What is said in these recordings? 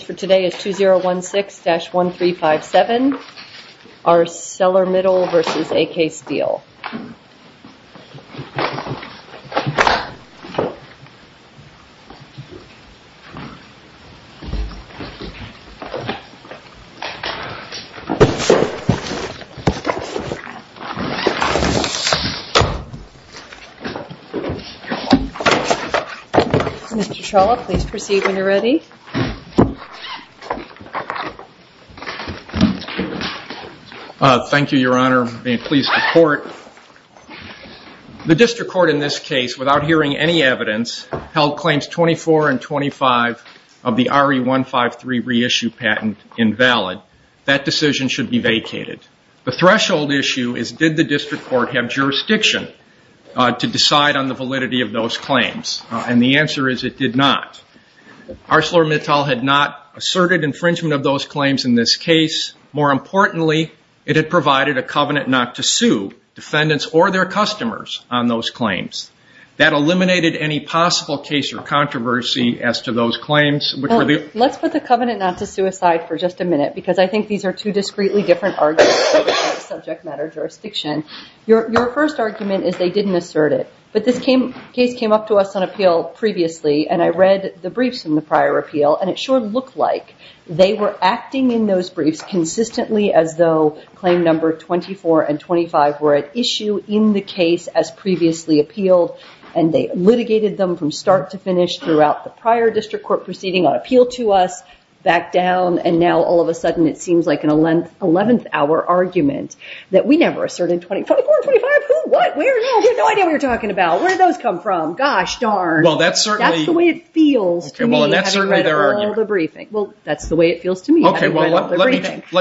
Today is 2016-1357, ArcelorMittal v. AK Steel Mr. Shaw, please proceed when you're ready Thank you, your honor, I'm pleased to report. The district court in this case, without hearing any evidence, held claims 24 and 25 of the RE-153 reissue patent invalid. That decision should be vacated. The threshold issue is did the district court have jurisdiction to decide on the validity of those claims? And the answer is it did not. ArcelorMittal had not asserted infringement of those claims in this case. More importantly, it had provided a covenant not to sue defendants or their customers on those claims. That eliminated any possible case or controversy as to those claims. Let's put the covenant not to sue aside for just a minute because I think these are two discreetly different arguments for subject matter jurisdiction. Your first argument is they didn't assert it. But this case came up to us on appeal previously and I read the briefs and it didn't look like they were acting in those briefs consistently as though claim number 24 and 25 were at issue in the case as previously appealed and they litigated them from start to finish throughout the prior district court proceeding on appeal to us, back down, and now all of a sudden it seems like an 11th hour argument that we never asserted 24 and 25, who, what, where, no, we have no idea what you're talking about. Where did those come from? Gosh darn. That's the way it feels to me having read all the briefs. That's the way it feels to me. Let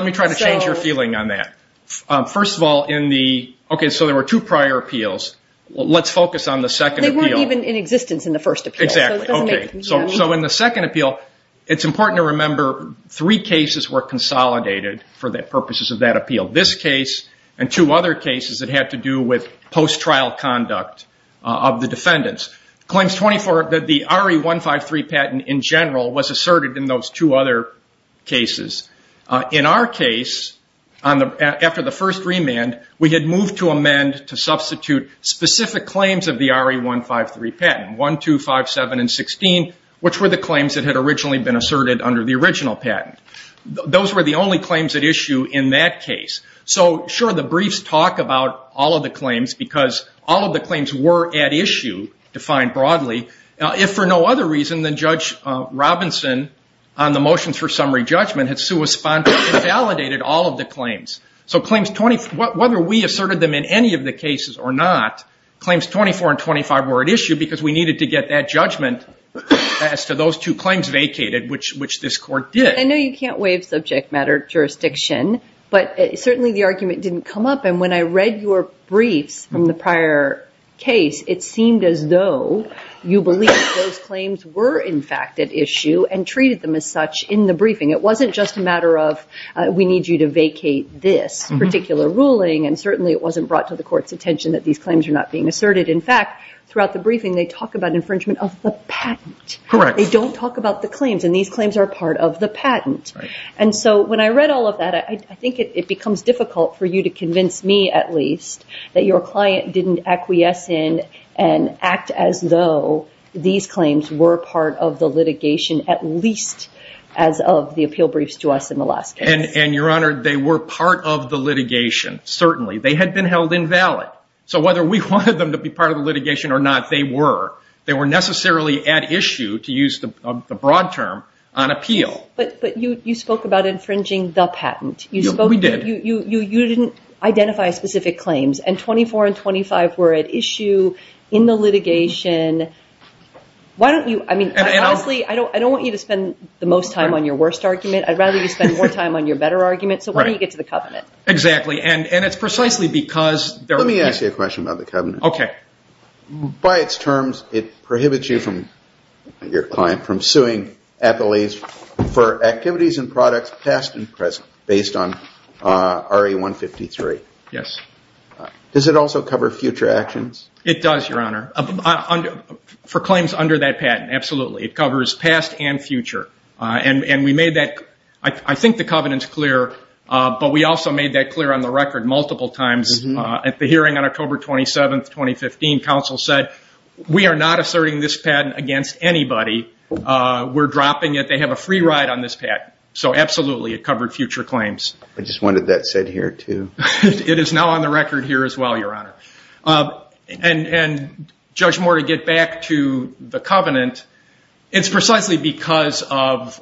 me try to change your feeling on that. First of all, so there were two prior appeals. Let's focus on the second appeal. They weren't even in existence in the first appeal. So in the second appeal, it's important to remember three cases were consolidated for the purposes of that appeal. This case and two other cases that had to do with post-trial conduct of the defendants. Claims 24, the RE 153 patent in general was two other cases. In our case, after the first remand, we had moved to amend to substitute specific claims of the RE 153 patent, 1, 2, 5, 7, and 16, which were the claims that had originally been asserted under the original patent. Those were the only claims at issue in that case. So sure, the briefs talk about all of the claims because all of the claims were at issue, defined broadly. If for no other reason than Judge Robinson on the motions for summary judgment had validated all of the claims. So claims 24, whether we asserted them in any of the cases or not, claims 24 and 25 were at issue because we needed to get that judgment as to those two claims vacated, which this court did. I know you can't waive subject matter jurisdiction, but certainly the argument didn't come up. When I read your briefs from the prior case, it seemed as though you believed those claims were in fact at issue and treated them as such in the briefing. It wasn't just a matter of we need you to vacate this particular ruling, and certainly it wasn't brought to the court's attention that these claims are not being asserted. In fact, throughout the briefing, they talk about infringement of the patent. They don't talk about the claims, and these claims are part of the patent. So when I read all of that, I think it becomes difficult for you to convince me, at least, that your client didn't acquiesce in and act as though these claims were part of the litigation, at least as of the appeal briefs to us in the last case. Your Honor, they were part of the litigation, certainly. They had been held invalid. So whether we wanted them to be part of the litigation or not, they were. They were necessarily at issue, to use the broad term, on appeal. But you spoke about infringing the patent. You didn't identify specific claims, and 24 and 25 were at issue in the litigation. I don't want you to spend the most time on your worst argument. I'd rather you spend more time on your better argument. So why don't you get to the covenant? Exactly. And it's precisely because there was... Let me ask you a question about the covenant. By its terms, it prohibits you from, your Honor, for activities and products past and present, based on RA 153. Yes. Does it also cover future actions? It does, your Honor. For claims under that patent, absolutely. It covers past and future. And we made that... I think the covenant's clear, but we also made that clear on the record multiple times. At the hearing on October 27, 2015, counsel said, we are not asserting this patent against anybody. We're dropping it. They have a free ride on this patent. So absolutely, it covered future claims. I just wanted that said here, too. It is now on the record here as well, your Honor. And Judge Moore, to get back to the covenant, it's precisely because of...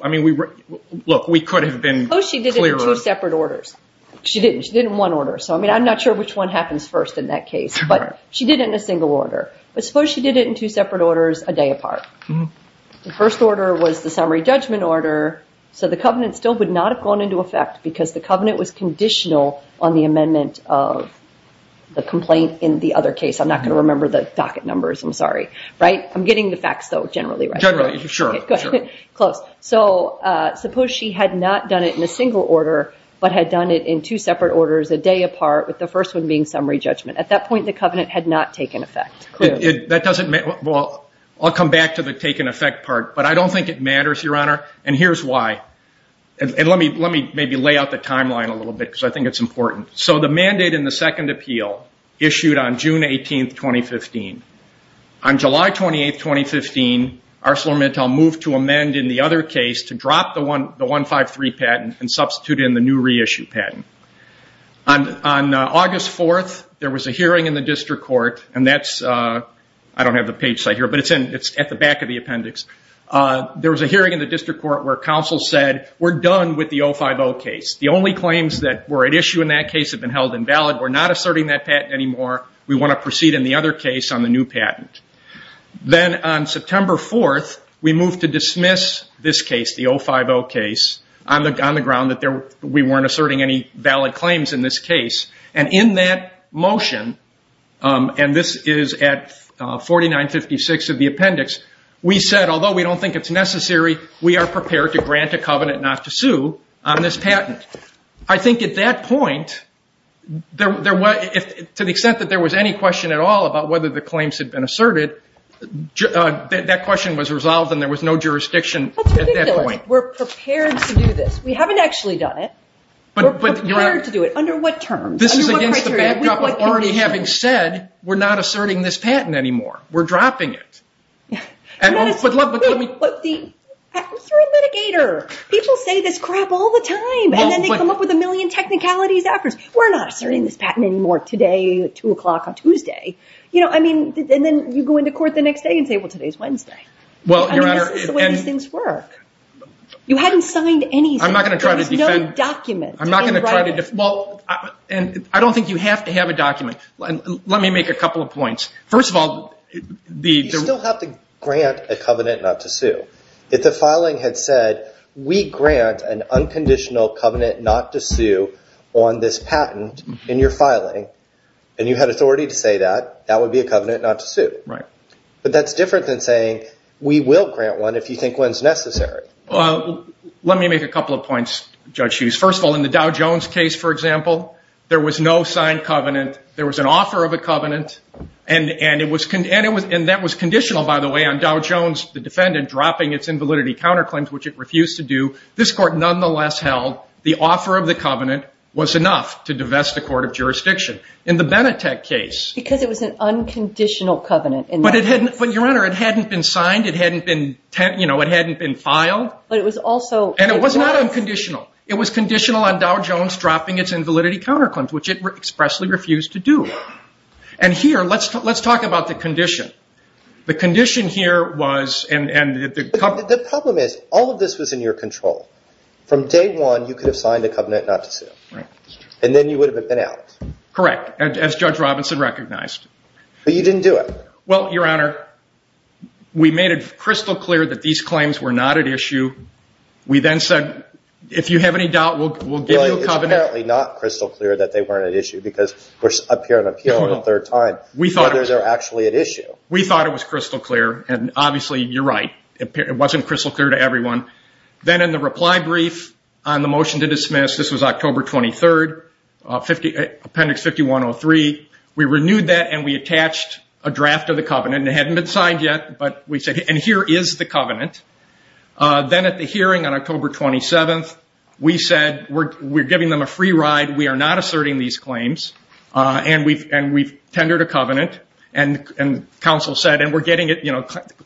Look, we could have been clearer. Suppose she did it in two separate orders. She didn't. She did it in one order. So I'm not sure which one happens first in that case. But she did it in a single order. But suppose she did it in two separate orders a day apart. The first order was the summary judgment order. So the covenant still would not have gone into effect because the covenant was conditional on the amendment of the complaint in the other case. I'm not going to remember the docket numbers. I'm sorry. Right? I'm getting the facts, though, generally, right? Generally. Sure. Close. So suppose she had not done it in a single order, but had done it in two separate orders a day apart, with the first one being summary judgment. At that point, the covenant had not taken effect. That doesn't... Well, I'll come back to the taken effect part. But I don't think it matters, your Honor. And here's why. And let me maybe lay out the timeline a little bit, because I think it's important. So the mandate in the second appeal issued on June 18, 2015. On July 28, 2015, ArcelorMittal moved to amend in the other case to drop the 153 patent and substitute in the new reissue patent. On August 4th, there was a hearing in the District Court, and that's... I don't have the page site here, but it's at the back of the appendix. There was a hearing in the District Court where counsel said, we're done with the 050 case. The only claims that were at issue in that case have been held invalid. We're not asserting that patent anymore. We want to proceed in the other case on the new patent. Then on September 4th, we moved to dismiss this case, the 050 case, on the ground that we weren't asserting any valid claims in this case. And in that motion, and this is at 4956 of the appendix, we said, although we don't think it's necessary, we are prepared to grant a covenant not to sue on this patent. I think at that point, to the extent that there was any question at all about whether the claims had been asserted, that question was resolved and there was no jurisdiction at that point. We're prepared to do this. We haven't actually done it. We're prepared to do it. Under what terms? Under what criteria? This is against the backdrop of already having said, we're not asserting this patent anymore. We're dropping it. But the... You're a mitigator. People say this crap all the time, and then they come up with a million technicalities afterwards. We're not asserting this patent anymore today, two o'clock on Tuesday. Then you go into court the next day and say, well, today's Wednesday. I mean, this is the way these things work. You hadn't signed anything. There was no document. I'm not going to try to defend... I don't think you have to have a document. Let me make a couple of points. First of all, the... You still have to grant a covenant not to sue. If the filing had said, we grant an unconditional covenant not to sue on this patent in your filing, and you had authority to say that, that would be a covenant not to sue. But that's different than saying, we will grant one if you think one's necessary. Let me make a couple of points, Judge Hughes. First of all, in the Dow Jones case, for example, there was no signed covenant. There was an offer of a covenant, and that was conditional, by the way, on Dow Jones, the defendant, dropping its invalidity counterclaims, which it refused to do. This court nonetheless held the offer of the covenant was enough to divest the court of jurisdiction. In the Benetech case... Because it was an unconditional covenant. But, Your Honor, it hadn't been signed. It hadn't been filed. But it was also... And it was not unconditional. It was conditional on Dow Jones dropping its invalidity counterclaims, which it expressly refused to do. And here, let's talk about the condition. The condition here was... The problem is, all of this was in your control. From day one, you could have signed a covenant not to sue. And then you would have been out. Correct. As Judge Robinson recognized. But you didn't do it. Well, Your Honor, we made it crystal clear that these claims were not at issue. We then said, if you have any doubt, we'll give you a covenant. Well, it's apparently not crystal clear that they weren't at issue, because we're up here and up here on the third time, whether they're actually at issue. We thought it was crystal clear. And obviously, you're right. It wasn't crystal clear to everyone. Then in the reply brief on the motion to dismiss, this was October 23rd, Appendix 5103, we renewed that and we attached a draft of the covenant. It hadn't been signed yet, but we said, and here is the covenant. Then at the hearing on October 27th, we said, we're giving them a free ride. We are not asserting these claims. And we've tendered a covenant. And counsel said, and we're getting it.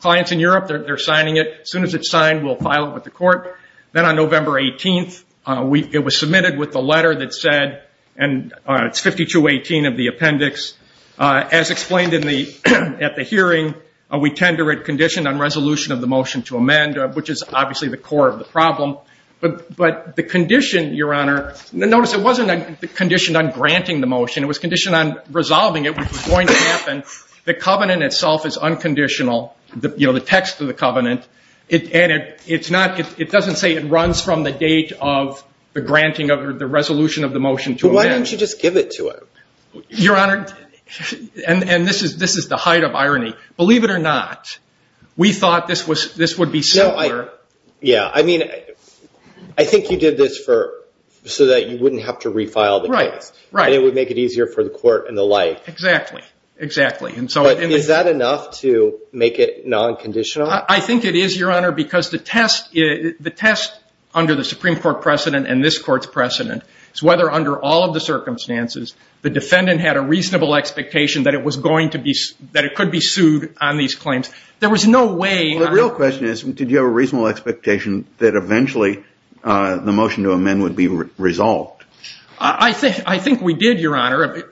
Clients in Europe, they're signing it. As soon as it's signed, we'll file it with the court. Then on November 18th, it was submitted with the letter that said, and it's 5218 of the appendix. As explained at the hearing, we tender it conditioned on resolution of the motion to amend, which is obviously the core of the problem. But the condition, Your Honor, notice it wasn't conditioned on granting the motion. It was unconditional, the text of the covenant. It doesn't say it runs from the date of the granting of the resolution of the motion to amend. But why don't you just give it to him? Your Honor, and this is the height of irony. Believe it or not, we thought this would be simpler. Yeah. I mean, I think you did this so that you wouldn't have to refile the case. Right, right. And it would make it easier for the court and the like. Exactly, exactly. But is that enough to make it non-conditional? I think it is, Your Honor, because the test under the Supreme Court precedent and this court's precedent is whether under all of the circumstances, the defendant had a reasonable expectation that it could be sued on these claims. There was no way- Well, the real question is, did you have a reasonable expectation that eventually the motion to amend would be resolved? I think we did, Your Honor.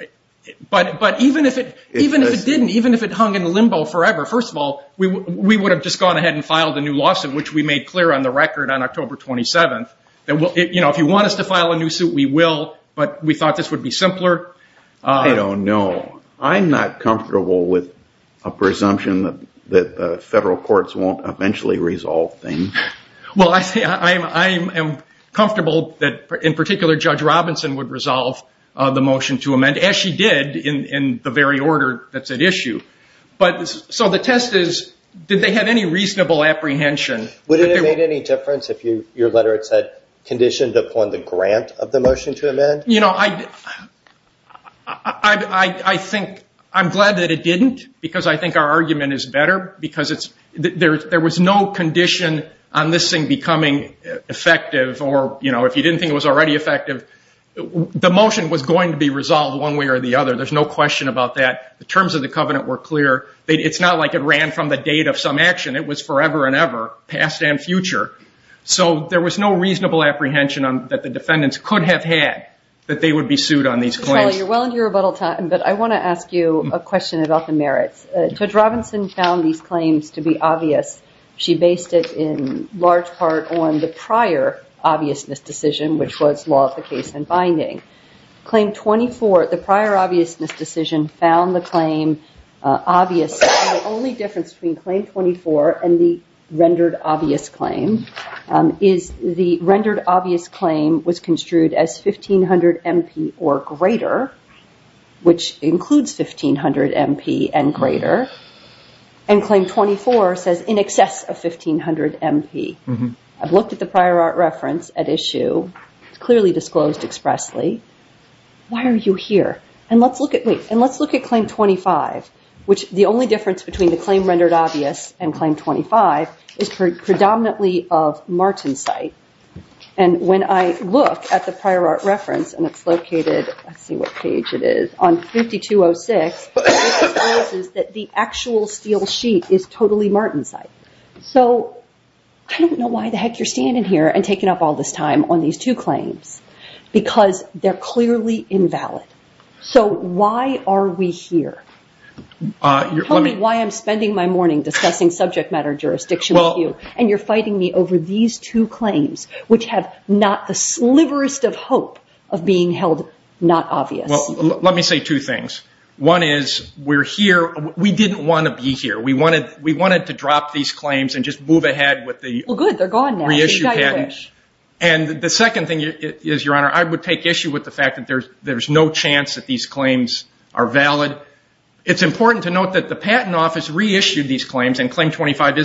But even if it didn't, even if it hung in limbo forever, first of all, we would have just gone ahead and filed a new lawsuit, which we made clear on the record on October 27th. If you want us to file a new suit, we will, but we thought this would be simpler. I don't know. I'm not comfortable with a presumption that federal courts won't eventually resolve things. Well, I am comfortable that, in particular, Judge Robinson would resolve the motion to amend, as she did in the very order that's at issue. So the test is, did they have any reasonable apprehension- Would it have made any difference if your letter, it said, conditioned upon the grant of the motion to amend? I'm glad that it didn't, because I think our argument is better, because there was no condition on this thing becoming effective or, you know, if you didn't think it was already effective, the motion was going to be resolved one way or the other. There's no question about that. The terms of the covenant were clear. It's not like it ran from the date of some action. It was forever and ever, past and future. So there was no reasonable apprehension that the defendants could have had that they would be sued on these claims. Mr. Talley, you're well into your rebuttal time, but I want to ask you a question about the merits. Judge Robinson found these claims to be obvious. She based it in large part on the prior obviousness decision, which was law of the case and binding. Claim 24, the prior obviousness decision found the claim obvious, and the only difference between Claim 24 and the rendered obvious claim is the rendered obvious claim was construed as 1500 M.P. or greater, which includes 1500 M.P. and greater, and Claim 24 says in excess of 1500 M.P. I've looked at the prior art reference at issue. It's clearly disclosed expressly. Why are you here? And let's look at Claim 25, which the only difference between the claim rendered obvious and Claim 25 is predominantly of Martensite, and when I look at the prior art reference, and it's located, let's see what page it is, on 5206, it discloses that the actual steel sheet is totally Martensite. So I don't know why the heck you're standing here and taking up all this time on these two claims, because they're clearly invalid. So why are we here? Tell me why I'm spending my morning discussing subject matter jurisdiction with you, and you're fighting me over these two claims, which have not the sliverest of hope of being held not obvious. Let me say two things. One is we're here. We didn't want to be here. We wanted to drop these claims and just move ahead with the reissue patents. And the second thing is, Your Honor, I would take issue with the fact that there's no chance that these claims are valid. It's important to note that the Patent Office reissued these claims after being... 25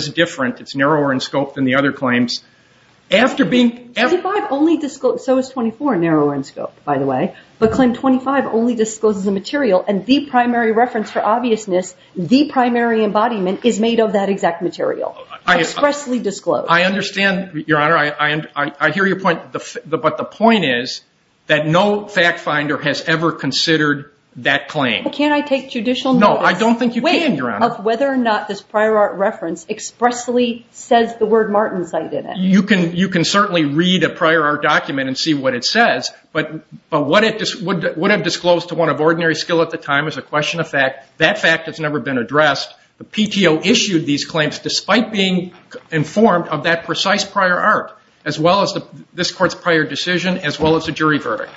only discloses, so is 24, narrower in scope, by the way, but claim 25 only discloses the material and the primary reference for obviousness, the primary embodiment, is made of that exact material, expressly disclosed. I understand, Your Honor. I hear your point, but the point is that no fact finder has ever considered that claim. Can't I take judicial notice... No, I don't think you can, Your Honor. ...of whether or not this prior art reference expressly says the word Martensite in it? You can certainly read a prior art document and see what it says, but what it would have disclosed to one of ordinary skill at the time is a question of fact. That fact has never been addressed. The PTO issued these claims despite being informed of that precise prior art, as well as this Court's prior decision, as well as the jury verdict.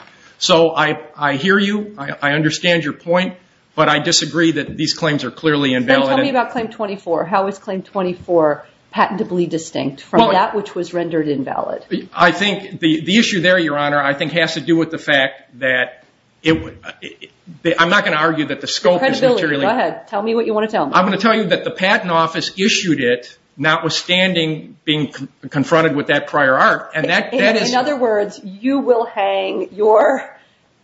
I hear you. I understand your point, but I disagree that these claims are clearly invalid. Then tell me about claim 24. How is claim 24 patentably distinct from that which was rendered invalid? I think the issue there, Your Honor, I think has to do with the fact that... I'm not going to argue that the scope is materially... Credibility. Go ahead. Tell me what you want to tell me. I'm going to tell you that the Patent Office issued it, notwithstanding being confronted with that prior art, and that is... In other words, you will hang your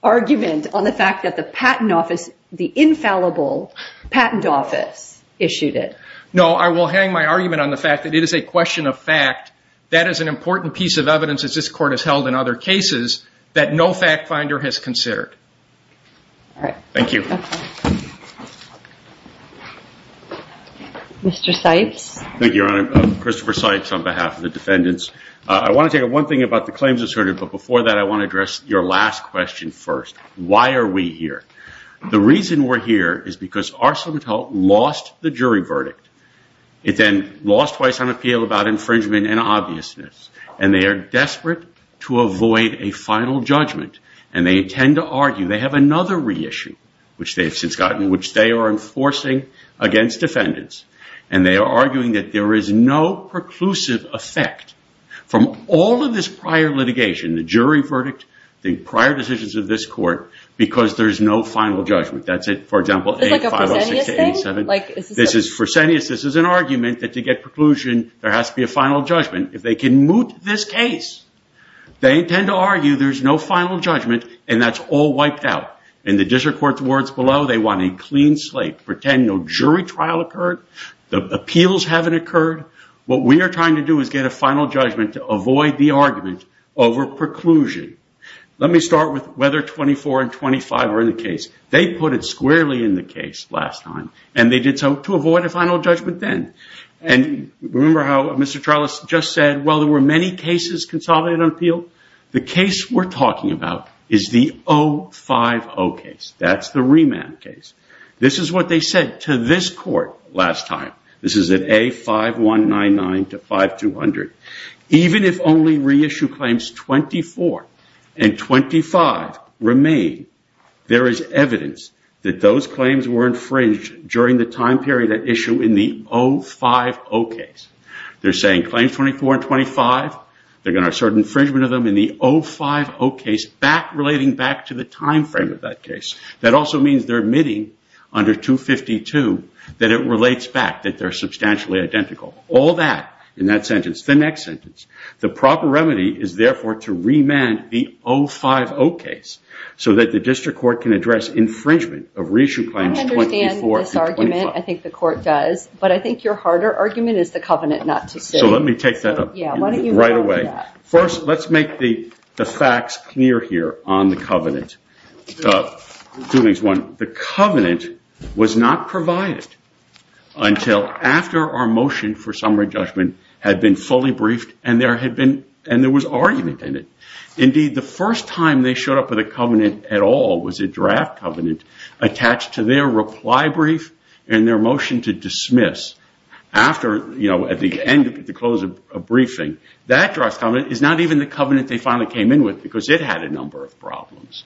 argument on the fact that the Patent Office, the infallible Patent Office issued it. No, I will hang my argument on the fact that it is a question of fact. That is an important piece of evidence, as this Court has held in other cases, that no fact finder has considered. Thank you. Mr. Seitz. Thank you, Your Honor. Christopher Seitz on behalf of the defendants. I want to take one thing about the claims asserted, but before that, I want to address your last question first. Why are we here? The reason we're here is because Arsenault lost the jury verdict. It then lost twice on appeal about infringement and obviousness, and they are desperate to avoid a final judgment, and they tend to argue. They have another reissue, which they've since gotten, which they are enforcing against defendants, and they are arguing that there is no preclusive effect from all of this prior litigation, the jury verdict, the prior decisions of this Court, because there's no final judgment. That's it. For example, 8506-87. It's like a Fresenius thing? This is Fresenius. This is an argument that to get preclusion, there has to be a final judgment. If they can moot this case, they tend to argue there's no final judgment, and that's all wiped out. In the district court's words below, they want a clean slate. Pretend no jury trial occurred, the appeals haven't occurred. What we are trying to do is get a final judgment to avoid the argument over preclusion. Let me start with whether 24 and 25 are in the case. They put it squarely in the case last time, and they did so to avoid a final judgment then. Remember how Mr. Charles just said, well, there were many cases consolidated on appeal? The case we're talking about is the 050 case. That's the remand case. This is what they said to this Court last time. This is at A5199-5200. Even if only reissue claims 24 and 25 remain, there is evidence that those claims were infringed during the time period at issue in the 050 case. They're saying claims 24 and 25, they're going to assert infringement of them in the 050 case relating back to the time frame of that case. That also means they're admitting under 252 that it relates back, that they're substantially identical. All that in that sentence. The next sentence, the proper remedy is therefore to remand the 050 case so that the district court can address infringement of reissue claims 24 and 25. I understand this argument. I think the Court does, but I think your harder argument is the covenant not to sue. Let me take that up right away. First, let's make the facts clear here on the covenant. Two things. One, the covenant was not provided until after our motion for summary judgment had been fully briefed and there was argument in it. Indeed, the first time they showed up with a covenant at all was a draft covenant attached to their reply brief and their motion to dismiss at the end of the closing briefing. That draft covenant is not even the covenant they finally came in with because it had a number of problems.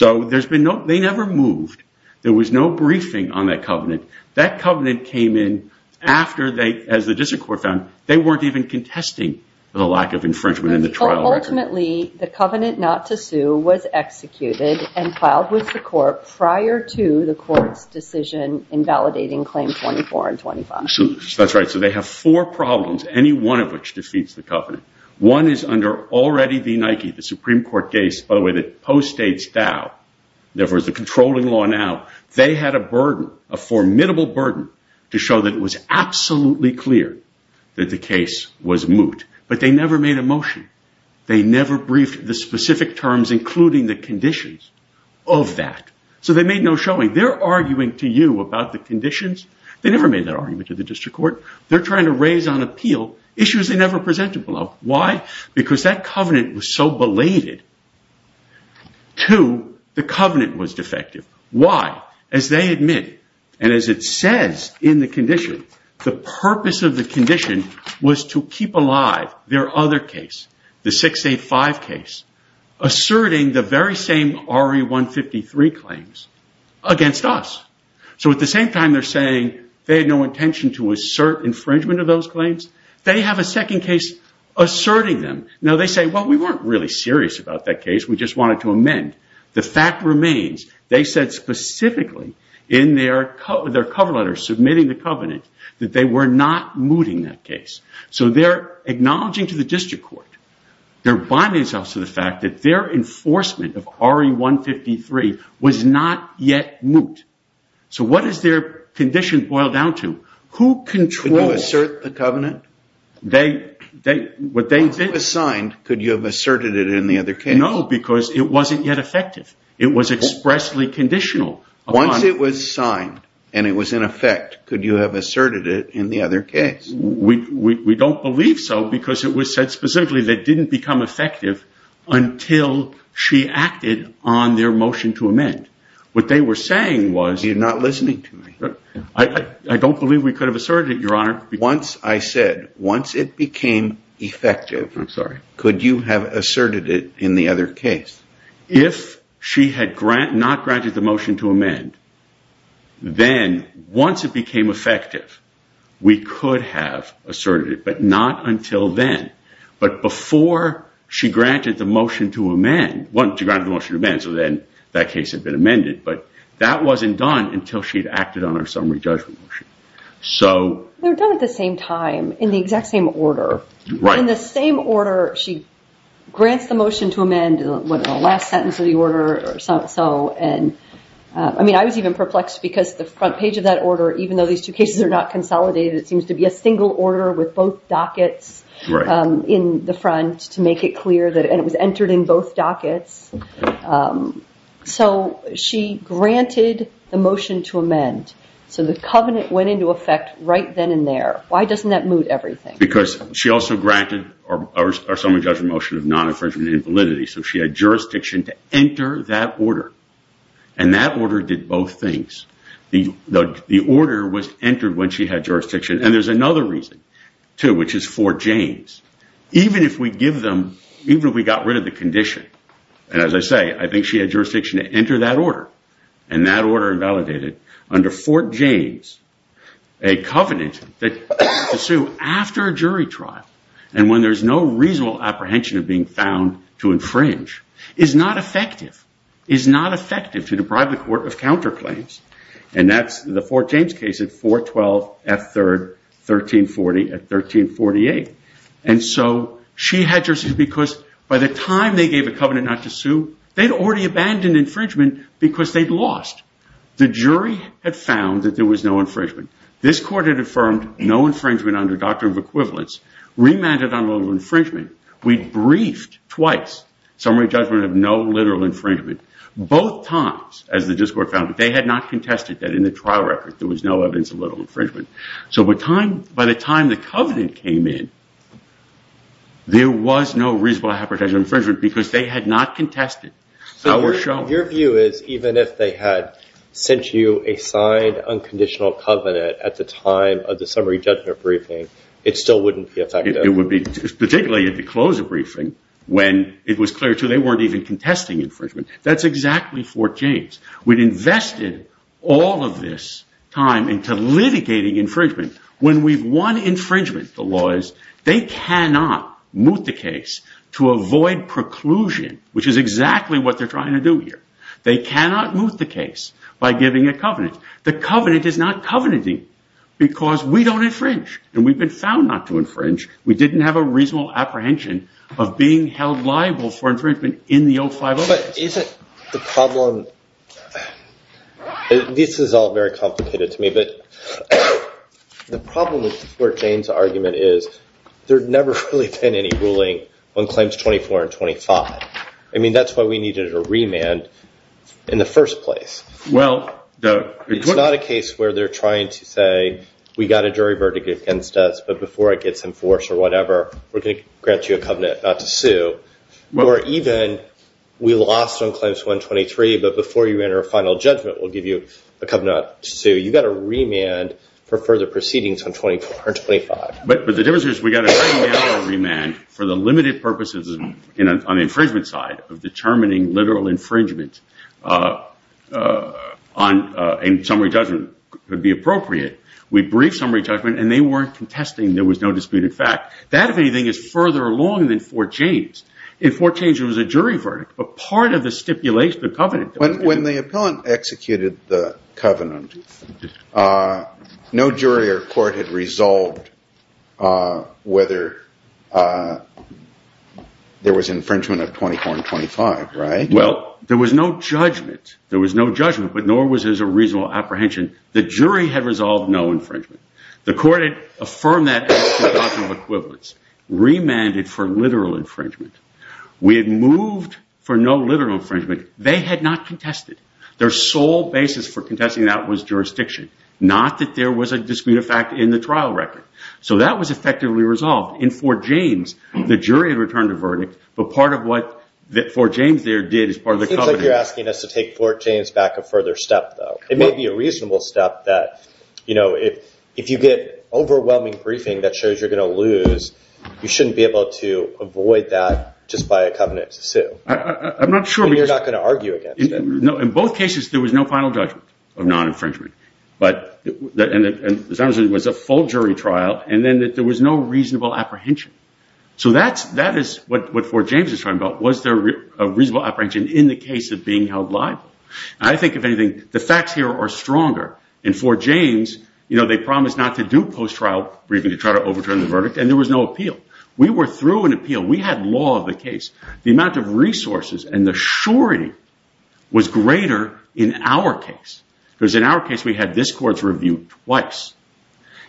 They never moved. There was no briefing on that covenant. That covenant came in after, as the district court found, they weren't even contesting the lack of infringement in the trial record. Ultimately, the covenant not to sue was executed and filed with the court prior to the court's decision in validating claim 24 and 25. That's right. They have four problems, any one of which defeats the covenant. One is under already the Nike, the Supreme Court case, by the way, that postdates Dow. Therefore, it's a controlling law now. They had a burden, a formidable burden to show that it was absolutely clear that the case was moot, but they never made a motion. They never briefed the specific terms, including the conditions of that. They made no showing. They're arguing to you about the conditions. They never made that argument to the district court. They're trying to raise on appeal issues they never presented below. Why? Because that covenant was so belated. Two, the covenant was defective. Why? As they admit, and as it says in the condition, the purpose of the condition was to keep alive their other case, the 685 case, asserting the very same RE 153 claims against us. At the same time, they're saying they had no intention to assert infringement of those claims. They have a second case asserting them. They say, well, we weren't really serious about that case. We just wanted to amend. The fact remains, they said specifically in their cover letter submitting the covenant that they were not mooting that case. They're acknowledging to the district court. They're acknowledging the fact that their enforcement of RE 153 was not yet moot. So what is their condition boiled down to? Who controls? Could you assert the covenant? They, they, what they've been- Once it was signed, could you have asserted it in the other case? No, because it wasn't yet effective. It was expressly conditional. Once it was signed and it was in effect, could you have asserted it in the other case? We don't believe so because it was said specifically that didn't become effective until she acted on their motion to amend. What they were saying was- You're not listening to me. I don't believe we could have asserted it, your honor. Once I said, once it became effective, could you have asserted it in the other case? If she had not granted the motion to amend, then once it became effective, we could have asserted it, but not until then. But before she granted the motion to amend, so then that case had been amended, but that wasn't done until she'd acted on her summary judgment motion. They were done at the same time, in the exact same order. In the same order she grants the last sentence of the order. I was even perplexed because the front page of that order, even though these two cases are not consolidated, it seems to be a single order with both dockets in the front to make it clear that it was entered in both dockets. She granted the motion to amend, so the covenant went into effect right then and there. Why doesn't that move everything? Because she also granted our summary judgment motion of non-infringement and invalidity. She had jurisdiction to enter that order, and that order did both things. The order was entered when she had jurisdiction, and there's another reason, too, which is Fort James. Even if we give them, even if we got rid of the condition, and as I say, I think she had jurisdiction to enter that order, and that order invalidated under Fort James a covenant to sue after a jury trial, and when there's no reasonable apprehension of being found to infringe, it's not effective. It's not effective to deprive the court of counterclaims, and that's the Fort James case at 412 F. 3rd, 1340 at 1348. And so she had jurisdiction because by the time they gave a covenant not to sue, they'd already abandoned infringement because they'd lost. The jury had found that there was no infringement. This court had affirmed no infringement under a doctrine of equivalence, remanded on a little infringement. We briefed twice summary judgment of no literal infringement. Both times, as the district court found, they had not contested that in the trial record there was no evidence of literal infringement. So by the time the covenant came in, there was no reasonable apprehension of infringement because they had not contested how we're shown. Your view is even if they had sent you a signed unconditional covenant at the time of the summary judgment briefing, it still wouldn't be effective? Particularly if you close a briefing when it was clear, too, they weren't even contesting infringement. That's exactly Fort James. We'd invested all of this time into litigating infringement. When we've won infringement, the law is they cannot moot the case to avoid preclusion, which is exactly what they're trying to do here. They cannot moot the case by giving a covenant. The covenant is not covenanting because we don't infringe, and we've been found not to infringe. We didn't have a reasonable apprehension of being held liable for infringement in the old five years. But isn't the problem, this is all very complicated to me, but the problem with Fort James argument is there's never really been any ruling on claims 24 and 25. I mean, that's why we needed a remand in the first place. It's not a case where they're trying to say we got a jury verdict against us, but before it gets enforced or whatever, we're going to grant you a covenant not to sue. Or even we lost on claims 123, but before you enter a final judgment, we'll give you a covenant not to sue. You got a remand for further proceedings on 24 and 25. But the difference is we got a remand for the limited purposes on the infringement side of determining literal infringement on a summary judgment would be appropriate. We brief summary judgment, and they weren't contesting there was no disputed fact. That, if anything, is further along than Fort James. In Fort James, it was a jury verdict, but part of the stipulation, the covenant- When the appellant executed the covenant, no jury or court had resolved whether there was infringement of 24 and 25, right? Well, there was no judgment. There was no judgment, but nor was there a reasonable apprehension. The jury had resolved no infringement. The court had affirmed that as to a doctrine of equivalence, remanded for literal infringement. We had moved for no literal infringement. They had not contested. Their sole basis for contesting that was jurisdiction, not that there was a disputed fact in the trial record. So that was effectively resolved. In Fort James, the jury had returned a verdict, but part of what Fort James there did as part of the covenant- It seems like you're asking us to take Fort James back a further step, though. It may be a reasonable step that if you get overwhelming briefing that shows you're going to lose, you shouldn't be able to avoid that just by a covenant to sue. I'm not sure- And you're not going to argue against it. In both cases, there was no final judgment of non-infringement. It was a full jury trial, and then there was no reasonable apprehension. So that is what Fort James is talking about. Was there a reasonable apprehension in the case of being held liable? I think, if anything, the facts here are stronger. In Fort James, they promised not to do post-trial briefing to try to overturn the verdict, and there was no appeal. We were through an appeal. We had law of the case. The amount of resources and the surety was greater in our case, because in our case, we had this court's review twice,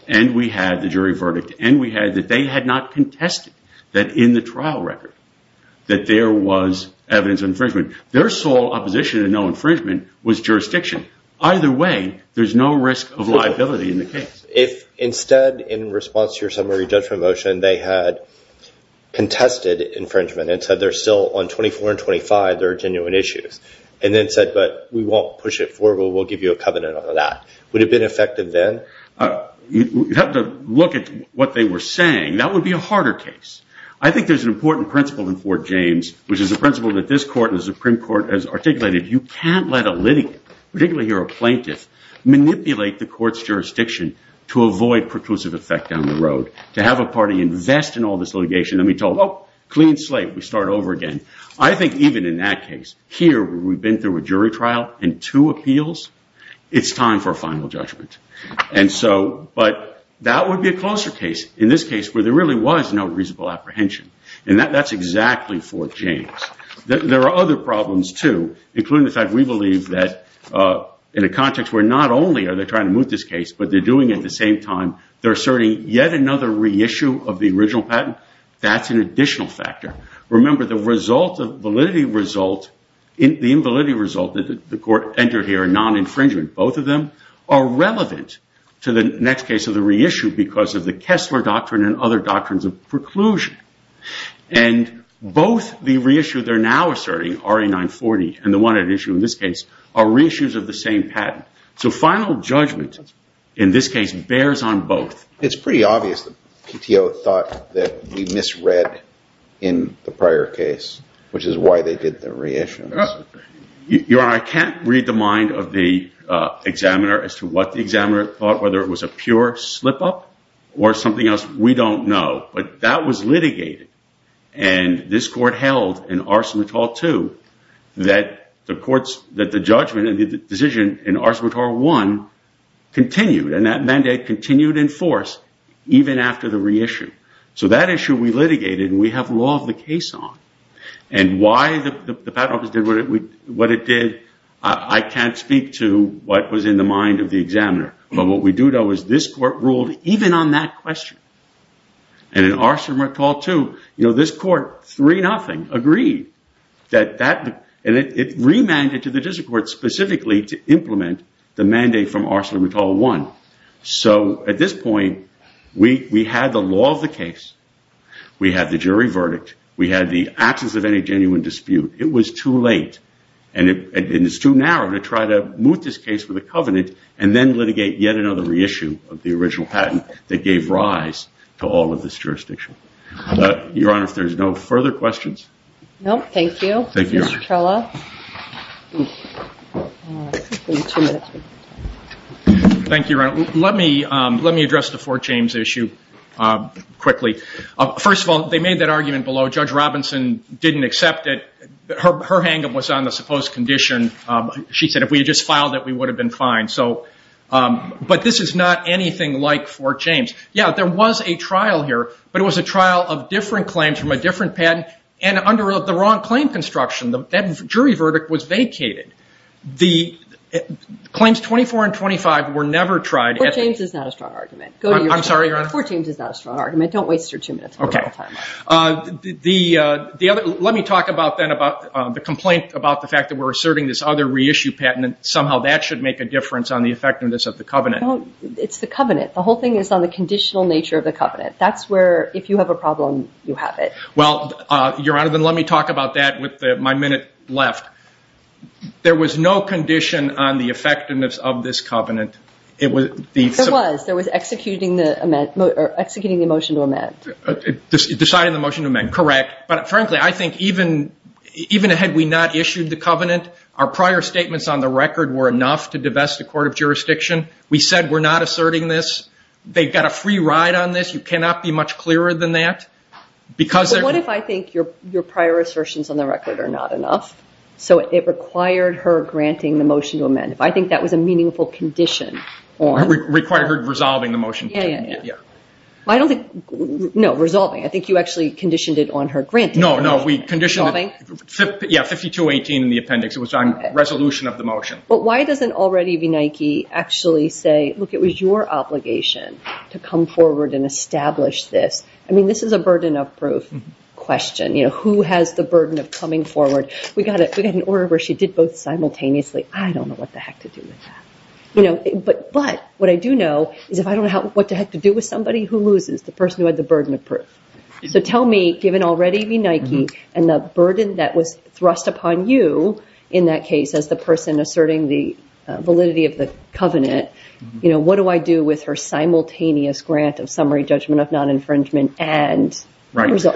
and we had the jury verdict, and we had that they had not contested that in the trial record that there was evidence of infringement. Their sole opposition to no infringement was jurisdiction. Either way, there's no risk of liability in the case. If instead, in response to your summary judgment motion, they had contested infringement and said there's still on 24 and 25, there are genuine issues, and then said, but we won't push it forward. We'll give you a covenant on that. Would it have been effective then? You'd have to look at what they were saying. That would be a harder case. I think there's an important principle in Fort James, which is the principle that this court and the Supreme Court has articulated. You can't let a litigant, particularly here a plaintiff, manipulate the court's jurisdiction to avoid preclusive effect down the road, to have a party invest in all this litigation, and be told, oh, clean slate. We start over again. I think even in that case, here, where we've been through a jury trial and two appeals, it's time for a final judgment. But that would be a closer case, in this case, where there really was no reasonable apprehension. That's exactly Fort James. There are other problems, too, including the fact we believe that in a context where not only are they trying to move this case, but they're doing it at the same time, they're asserting yet another reissue of the original patent. That's an additional factor. Remember, the validity result, the invalidity result that the court entered here, non-infringement, both of them, are relevant to the next case of the reissue because of the Kessler doctrine and other doctrines of preclusion. And both the reissue they're now asserting, RA 940, and the one at issue in this case, are reissues of the same patent. So final judgment, in this case, bears on both. It's pretty obvious that PTO thought that we misread in the prior case, which is why they did the reissue. Your Honor, I can't read the mind of the examiner as to what the examiner thought, whether it was a pure slip-up or something else. We don't know. But that was litigated. And this court held in Ars Emet-Tor II that the judgment and the decision in Ars Emet-Tor I continued, and that mandate continued in force even after the reissue. So that issue we litigated, and we have law of the case on. And why the patent office did what it did, I can't speak to what was in the mind of the And in Ars Emet-Tor II, this court, 3-0, agreed. And it remanded to the district court specifically to implement the mandate from Ars Emet-Tor I. So at this point, we had the law of the case. We had the jury verdict. We had the absence of any genuine dispute. It was too late. And it's too narrow to try to moot this case with a covenant, and then litigate yet another reissue of the original patent that gave rise to all of this jurisdiction. Your Honor, if there's no further questions. No, thank you. Mr. Trella. Thank you, Your Honor. Let me address the Fort James issue quickly. First of all, they made that argument below. Judge Robinson didn't accept it. Her hand was on the supposed condition. She said, if we had just filed it, we would have been fine. But this is not anything like Fort James. Yeah, there was a trial here. But it was a trial of different claims from a different patent. And under the wrong claim construction, that jury verdict was vacated. Claims 24 and 25 were never tried. Fort James is not a strong argument. I'm sorry, Your Honor? Fort James is not a strong argument. Don't waste your two minutes. Let me talk about the complaint about the fact that we're asserting this other reissue patent, and somehow that should make a difference on the effectiveness of the covenant. It's the covenant. The whole thing is on the conditional nature of the covenant. That's where, if you have a problem, you have it. Well, Your Honor, then let me talk about that with my minute left. There was no condition on the effectiveness of this covenant. It was. There was. There was executing the motion to amend. Deciding the motion to amend, correct. But frankly, I think even had we not issued the covenant, our prior statements on the record were enough to divest the court of jurisdiction. We said we're not asserting this. They've got a free ride on this. You cannot be much clearer than that. Because what if I think your prior assertions on the record are not enough? So it required her granting the motion to amend. If I think that was a meaningful condition. Required her resolving the motion. Yeah, yeah, yeah. I don't think. No, resolving. I think you actually conditioned it on her granting. No, no. We conditioned. Yeah, 52-18 in the appendix. It was on resolution of the motion. But why doesn't already v. Nike actually say, look, it was your obligation to come forward and establish this? I mean, this is a burden of proof question. You know, who has the burden of coming forward? We got an order where she did both simultaneously. I don't know what the heck to do with that. You know, but what I do know is if I don't know what the heck to do with somebody, who loses? The person who had the burden of proof. So tell me, given already v. Nike and the burden that was thrust upon you in that case as the person asserting the validity of the covenant, you know, what do I do with her simultaneous grant of summary judgment of non-infringement and resolution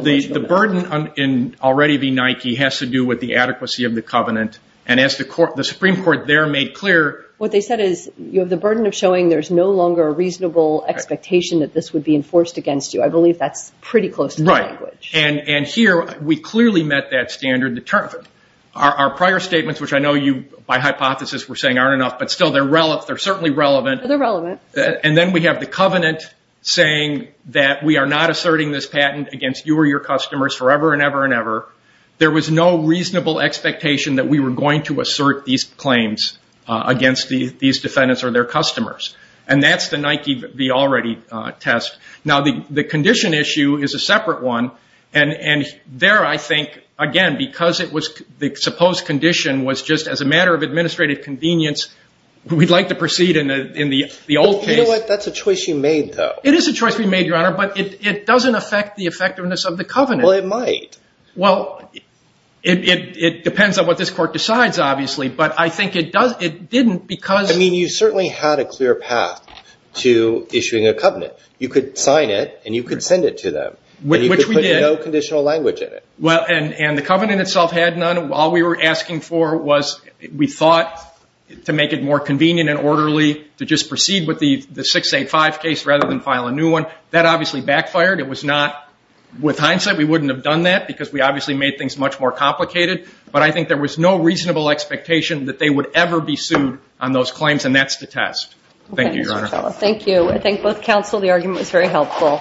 of the motion? Well, the burden in already v. Nike has to do with the adequacy of the covenant. And as the Supreme Court there made clear. What they said is you have the burden of showing there's no longer a reasonable expectation that this would be enforced against you. I believe that's pretty close to the language. And here we clearly met that standard. Our prior statements, which I know you by hypothesis were saying aren't enough, but still they're relevant. They're certainly relevant. They're relevant. And then we have the covenant saying that we are not asserting this patent against you or your customers forever and ever and ever. There was no reasonable expectation that we were going to assert these claims against these defendants or their customers. And that's the Nike v. already test. Now, the condition issue is a separate one. And there I think, again, because the supposed condition was just as a matter of administrative convenience, we'd like to proceed in the old case. You know what, that's a choice you made, though. It is a choice we made, Your Honor, but it doesn't affect the effectiveness of the covenant. Well, it might. Well, it depends on what this court decides, obviously. But I think it didn't because- I mean, you certainly had a clear path to issuing a covenant. You could sign it and you could send it to them. Which we did. And you could put no conditional language in it. Well, and the covenant itself had none. All we were asking for was, we thought, to make it more convenient and orderly to just proceed with the 685 case rather than file a new one. That obviously backfired. It was not, with hindsight, we wouldn't have done that. Because we obviously made things much more complicated. But I think there was no reasonable expectation that they would ever be sued on those claims. And that's to test. Thank you, Your Honor. Thank you. I think both counsel, the argument was very helpful.